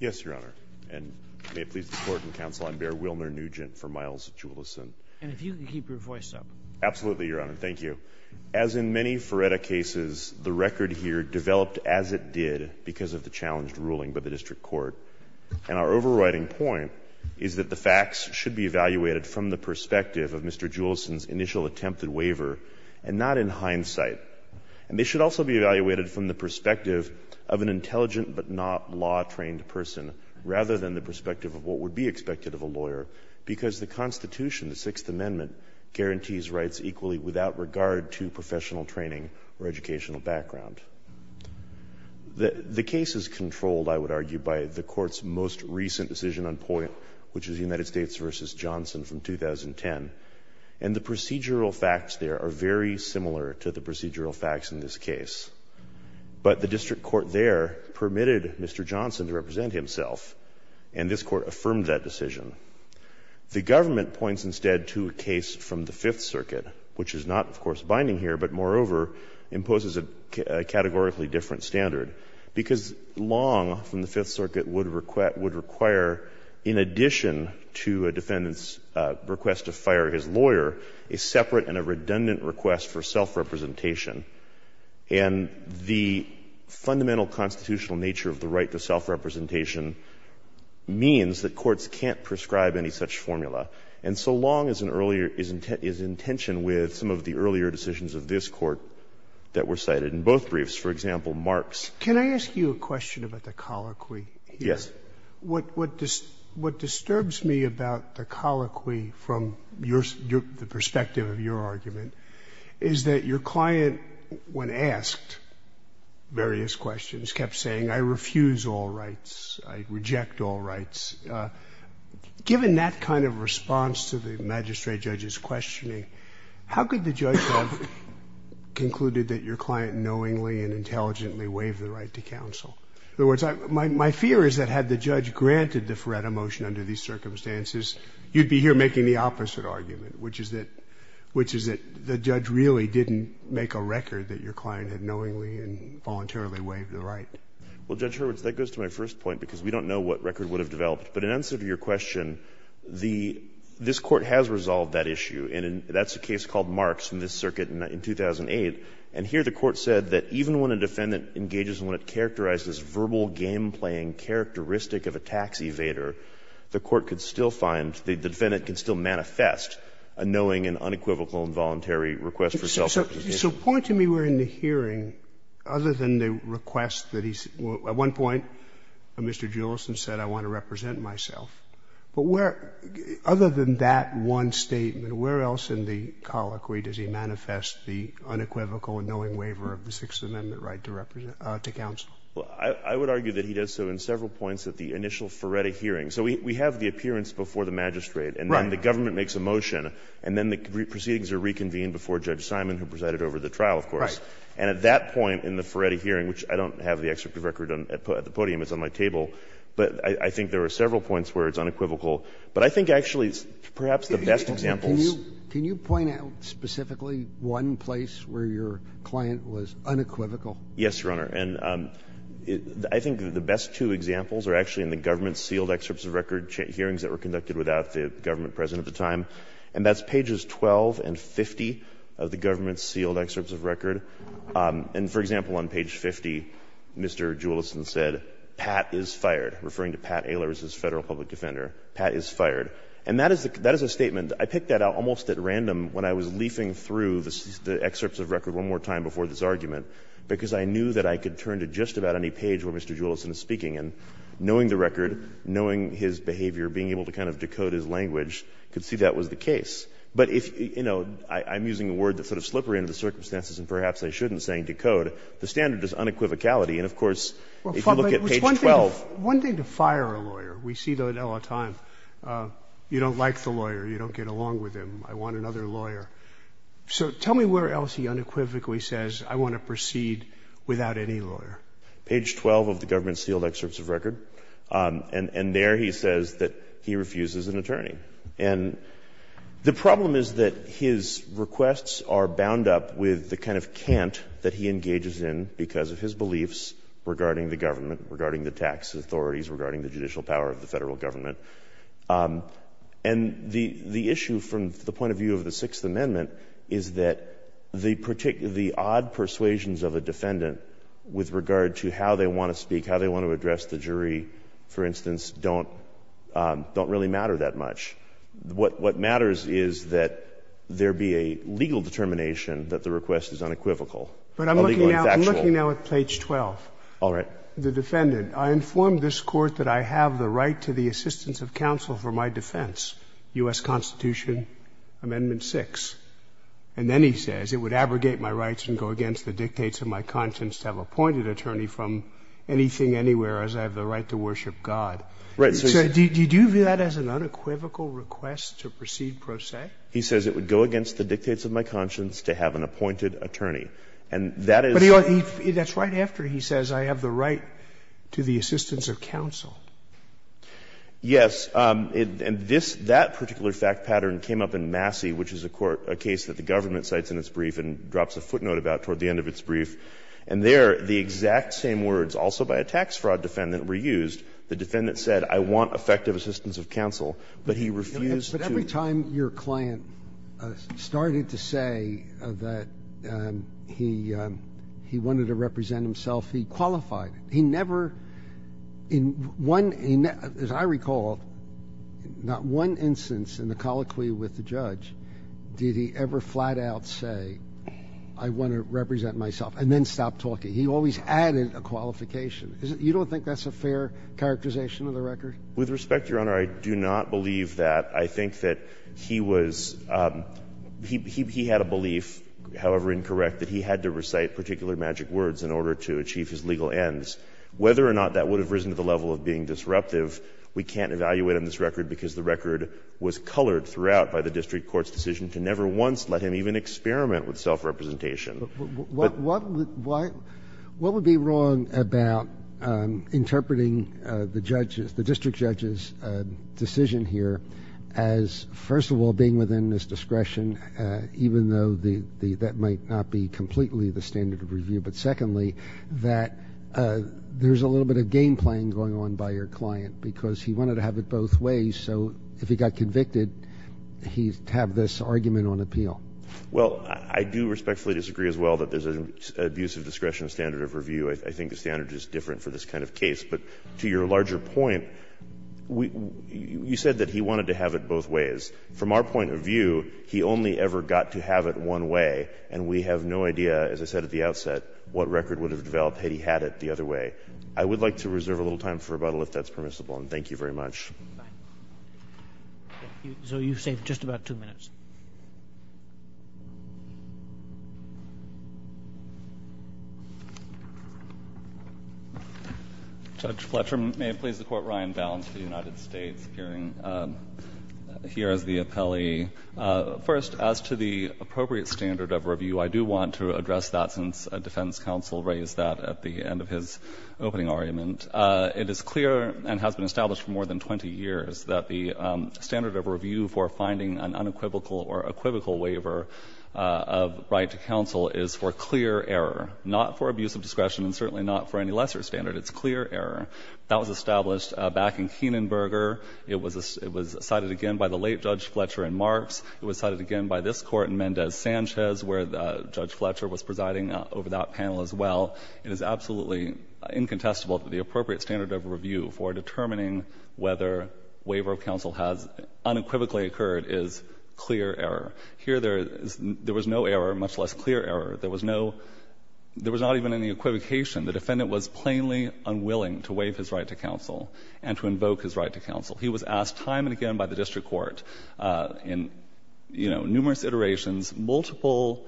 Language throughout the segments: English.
Yes, Your Honor. And may it please the Court and Counsel, I'm Bear Wilner Nugent for Miles Julison. And if you could keep your voice up. Absolutely, Your Honor. Thank you. As in many Feretta cases, the record here developed as it did because of the challenged ruling by the district court. And our overriding point is that the facts should be evaluated from the perspective of Mr. Julison's initial attempted waiver and not in hindsight. And they should also be evaluated from the perspective of an intelligent but not law-trained person, rather than the perspective of what would be expected of a lawyer, because the Constitution, the Sixth Amendment, guarantees rights equally without regard to professional training or educational background. The case is controlled, I would argue, by the Court's most recent decision on POIA, which is United States v. Johnson from 2010. And the procedural facts there are very similar to the procedural facts in this case. But the district court there permitted Mr. Johnson to represent himself, and this Court affirmed that decision. The government points instead to a case from the Fifth Circuit, which is not, of course, binding here, but moreover imposes a categorically different standard, because Long from the Fifth Circuit would require, in addition to a defendant's request to fire his lawyer, a separate and a redundant request for self-representation. And the fundamental constitutional nature of the right to self-representation means that courts can't prescribe any such formula. And so Long is in earlier — is in tension with some of the earlier decisions of this Court that were cited in both briefs. For example, Marx. Sotomayor, can I ask you a question about the colloquy here? Yes. What disturbs me about the colloquy from your — the perspective of your argument is that your client, when asked various questions, kept saying, I refuse all rights, I reject all rights. Given that kind of response to the magistrate judge's questioning, how could the judge have concluded that your client knowingly and intelligently waived the right to counsel? In other words, my fear is that had the judge granted the Feretta motion under these circumstances, you'd be here making the opposite argument, which is that — which is that the judge really didn't make a record that your client had knowingly and voluntarily waived the right. Well, Judge Hurwitz, that goes to my first point, because we don't know what record would have developed. But in answer to your question, the — this Court has resolved that issue, and that's a case called Marx in this circuit in 2008. And here the Court said that even when a defendant engages in what it characterized as verbal game-playing characteristic of a tax evader, the Court could still find — the defendant could still manifest a knowing and unequivocal and voluntary request for self-representation. So point to me where in the hearing, other than the request that he's — at one point, Mr. Julison said, I want to represent myself. But where — other than that one statement, where else in the colloquy does he manifest the unequivocal and knowing waiver of the Sixth Amendment right to represent — to counsel? I would argue that he does so in several points at the initial Ferretti hearing. So we have the appearance before the magistrate. Right. And then the government makes a motion, and then the proceedings are reconvened before Judge Simon, who presided over the trial, of course. Right. And at that point in the Ferretti hearing, which I don't have the excerpt of record at the podium, it's on my table, but I think there are several points where it's unequivocal. But I think actually, perhaps the best examples — Can you point out specifically one place where your client was unequivocal? Yes, Your Honor. And I think the best two examples are actually in the government-sealed excerpts of record hearings that were conducted without the government president at the time. And that's pages 12 and 50 of the government-sealed excerpts of record. And, for example, on page 50, Mr. Julison said, Pat is fired, referring to Pat Ehlers as Federal Public Defender. Pat is fired. And that is a — that is a statement. And I picked that out almost at random when I was leafing through the excerpts of record one more time before this argument, because I knew that I could turn to just about any page where Mr. Julison is speaking. And knowing the record, knowing his behavior, being able to kind of decode his language, I could see that was the case. But if, you know, I'm using a word that's sort of slippery under the circumstances and perhaps I shouldn't, saying decode, the standard is unequivocality. And, of course, if you look at page 12 — One thing to fire a lawyer, we see that all the time, you don't like the lawyer, you don't get along with him, I want another lawyer. So tell me where else he unequivocally says, I want to proceed without any lawyer. Page 12 of the government-sealed excerpts of record. And there he says that he refuses an attorney. And the problem is that his requests are bound up with the kind of cant that he engages in because of his beliefs regarding the government, regarding the tax authorities, regarding the judicial power of the Federal Government. And the issue from the point of view of the Sixth Amendment is that the odd persuasions of a defendant with regard to how they want to speak, how they want to address the jury, for instance, don't really matter that much. What matters is that there be a legal determination that the request is unequivocal, a legal and factual. But I'm looking now at page 12. All right. The defendant, I inform this Court that I have the right to the assistance of counsel for my defense, U.S. Constitution, Amendment 6. And then he says, it would abrogate my rights and go against the dictates of my conscience to have appointed attorney from anything, anywhere, as I have the right to worship God. So did you view that as an unequivocal request to proceed pro se? He says it would go against the dictates of my conscience to have an appointed attorney. And that is what he says. It's right after he says, I have the right to the assistance of counsel. Yes. And this, that particular fact pattern came up in Massey, which is a court, a case that the government cites in its brief and drops a footnote about toward the end of its brief. And there, the exact same words, also by a tax fraud defendant, were used. The defendant said, I want effective assistance of counsel, but he refused to. Every time your client started to say that he wanted to represent himself, he qualified. He never, in one, as I recall, not one instance in the colloquy with the judge did he ever flat out say, I want to represent myself, and then stop talking. He always added a qualification. You don't think that's a fair characterization of the record? With respect, Your Honor, I do not believe that. I think that he was he had a belief, however incorrect, that he had to recite particular magic words in order to achieve his legal ends. Whether or not that would have risen to the level of being disruptive, we can't evaluate on this record, because the record was colored throughout by the district court's decision to never once let him even experiment with self-representation. But what would be wrong about interpreting the judge's, the district judge's decision here as, first of all, being within his discretion, even though that might not be completely the standard of review, but secondly, that there's a little bit of game-playing going on by your client, because he wanted to have it both ways. So if he got convicted, he'd have this argument on appeal. Well, I do respectfully disagree as well that there's an abuse of discretion standard of review. I think the standard is different for this kind of case. But to your larger point, you said that he wanted to have it both ways. From our point of view, he only ever got to have it one way, and we have no idea, as I said at the outset, what record would have developed had he had it the other way. I would like to reserve a little time for rebuttal, if that's permissible, and thank you very much. Roberts. So you've saved just about two minutes. Judge Fletcher, may it please the Court. Ryan Baum to the United States, appearing here as the appellee. First, as to the appropriate standard of review, I do want to address that, since defense counsel raised that at the end of his opening argument. It is clear and has been established for more than 20 years that the standard of review for finding an unequivocal or equivocal waiver of right to counsel is for clear error, not for abuse of discretion and certainly not for any lesser standard. It's clear error. That was established back in Kienenberger. It was cited again by the late Judge Fletcher in Marks. It was cited again by this Court in Mendez-Sanchez, where Judge Fletcher was presiding over that panel as well. It is absolutely incontestable that the appropriate standard of review for determining whether waiver of counsel has unequivocally occurred is clear error. Here there is no error, much less clear error. There was no – there was not even any equivocation. The defendant was plainly unwilling to waive his right to counsel and to invoke his right to counsel. He was asked time and again by the district court in, you know, numerous iterations, multiple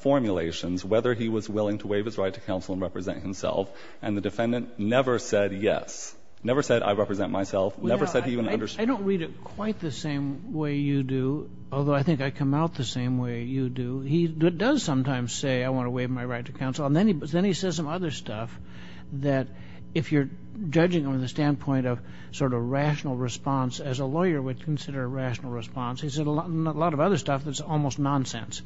formulations, whether he was willing to waive his right to counsel and represent himself, and the defendant never said yes, never said I represent myself, never said he even understood. I don't read it quite the same way you do, although I think I come out the same way you do. He does sometimes say, I want to waive my right to counsel, and then he says some other stuff that if you're judging on the standpoint of sort of rational response, as a lawyer would consider a rational response, he said a lot of other stuff that's almost nonsense.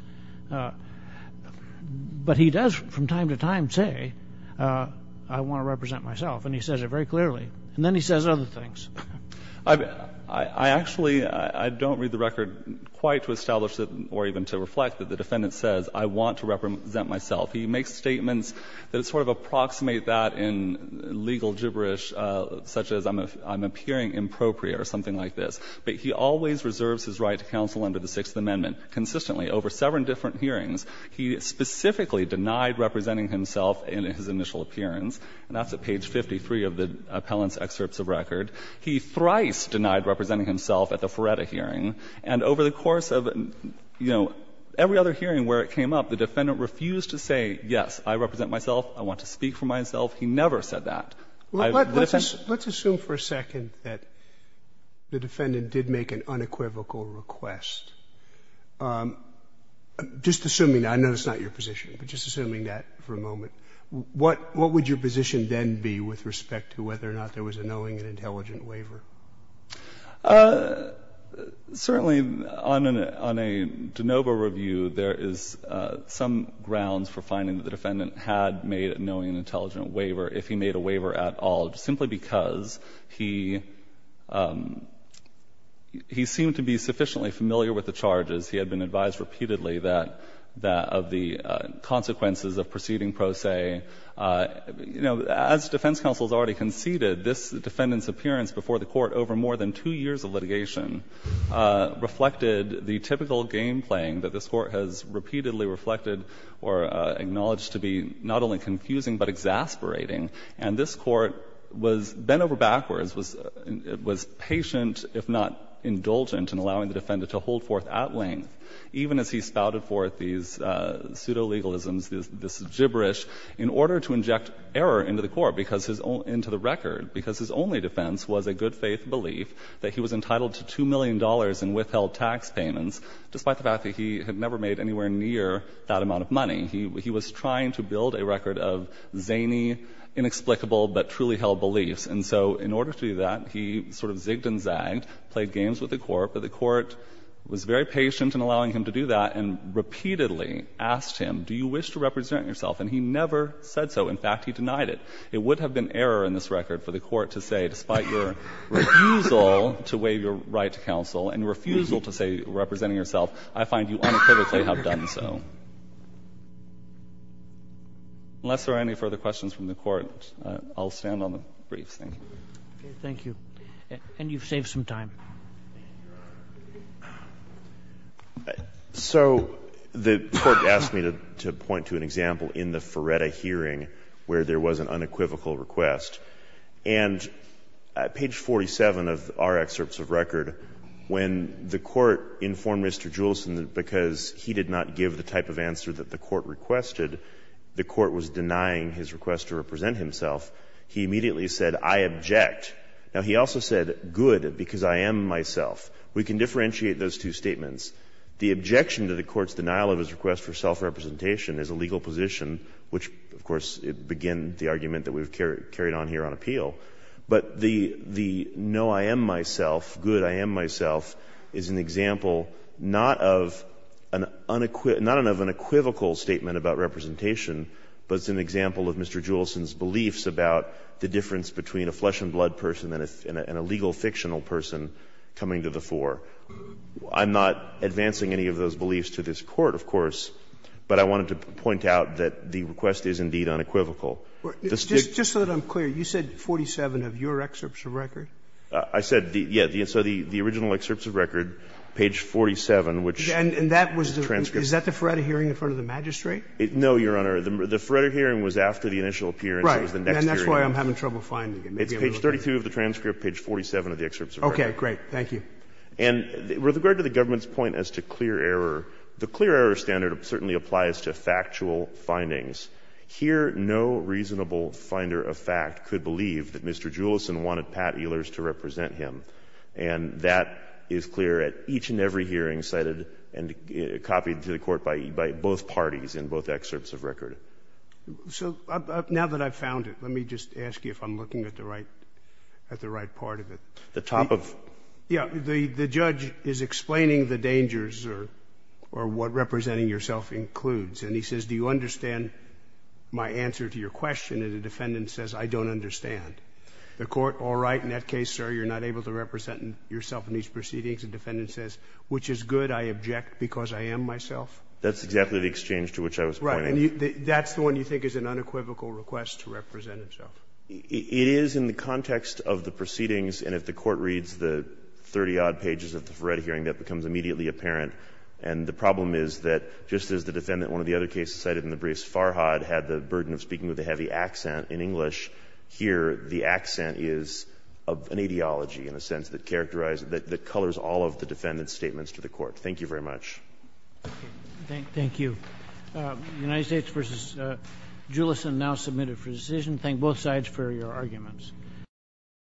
But he does from time to time say, I want to represent myself, and he says it very clearly, and then he says other things. I actually don't read the record quite to establish or even to reflect that the defendant says, I want to represent myself. He makes statements that sort of approximate that in legal gibberish, such as I'm appearing impropriate or something like this. But he always reserves his right to counsel under the Sixth Amendment. Consistently, over seven different hearings, he specifically denied representing himself in his initial appearance, and that's at page 53 of the appellant's excerpts of record. He thrice denied representing himself at the Feretta hearing. And over the course of, you know, every other hearing where it came up, the defendant refused to say, yes, I represent myself, I want to speak for myself. He never said that. I've never said that. Let's assume for a second that the defendant did make an unequivocal request. Just assuming that, I know it's not your position, but just assuming that for a moment, what would your position then be with respect to whether or not there was a knowing and intelligent waiver? Certainly, on a de novo review, there is some grounds for finding that the defendant had made a knowing and intelligent waiver if he made a waiver at all, simply because he seemed to be sufficiently familiar with the charges. He had been advised repeatedly that of the consequences of proceeding pro se. You know, as defense counsel has already conceded, this defendant's appearance before the Court over more than two years of litigation reflected the typical game-playing that this Court has repeatedly reflected or acknowledged to be not only confusing but exasperating. And this Court was bent over backwards, was patient, if not indulgent, in allowing the defendant to hold forth at length, even as he spouted forth these pseudo-legalisms, this gibberish, in order to inject error into the Court, because his own — into the record. Because his only defense was a good-faith belief that he was entitled to $2 million in withheld tax payments, despite the fact that he had never made anywhere near that amount of money. He was trying to build a record of zany, inexplicable, but truly held beliefs. And so in order to do that, he sort of zigged and zagged, played games with the Court. But the Court was very patient in allowing him to do that, and repeatedly asked him, do you wish to represent yourself? And he never said so. In fact, he denied it. It would have been error in this record for the Court to say, despite your refusal to waive your right to counsel and your refusal to say representing yourself, I find you unequivocally have done so. Unless there are any further questions from the Court, I'll stand on the briefs. Thank you. Roberts. Thank you. And you've saved some time. So the Court asked me to point to an example in the Ferretta hearing where there was an unequivocal request. And page 47 of our excerpts of record, when the Court informed Mr. Julesen that because he did not give the type of answer that the Court requested, the Court was denying his request to represent himself, he immediately said, I object. Now, he also said, good, because I am myself. We can differentiate those two statements. The objection to the Court's denial of his request for self-representation is a legal position, which, of course, began the argument that we've carried on here on appeal. But the no, I am myself, good, I am myself, is an example not of an unequivocal statement about representation, but it's an example of Mr. Julesen's beliefs about the difference between a flesh-and-blood person and a legal fictional person coming to the fore. I'm not advancing any of those beliefs to this Court, of course, but I wanted to point out that the request is indeed unequivocal. Just so that I'm clear, you said 47 of your excerpts of record? I said, yes, so the original excerpts of record, page 47, which transcripts the transcripts. And that was the Ferretta hearing in front of the magistrate? No, Your Honor. The Ferretta hearing was after the initial appearance. It was the next hearing. Right. And that's why I'm having trouble finding it. It's page 32 of the transcript, page 47 of the excerpts of record. Okay, great. Thank you. And with regard to the government's point as to clear error, the clear error standard certainly applies to factual findings. Here, no reasonable finder of fact could believe that Mr. Julison wanted Pat Ehlers to represent him. And that is clear at each and every hearing cited and copied to the Court by both parties in both excerpts of record. So now that I've found it, let me just ask you if I'm looking at the right part of it. The top of? Yes. The judge is explaining the dangers or what representing yourself includes, and he says, do you understand my answer to your question? And the defendant says, I don't understand. The Court, all right, in that case, sir, you're not able to represent yourself in these proceedings. The defendant says, which is good, I object because I am myself. That's exactly the exchange to which I was pointing. Right. And that's the one you think is an unequivocal request to represent himself. It is in the context of the proceedings, and if the Court reads the 30-odd pages of the Ferretta hearing, that becomes immediately apparent. And the problem is that just as the defendant in one of the other cases cited in the briefs, Farhad, had the burden of speaking with a heavy accent in English, here the accent is of an ideology, in a sense, that characterized, that colors all of the defendant's statements to the Court. Thank you very much. Thank you. The United States v. Julis and now submitted for decision. Thank both sides for your arguments.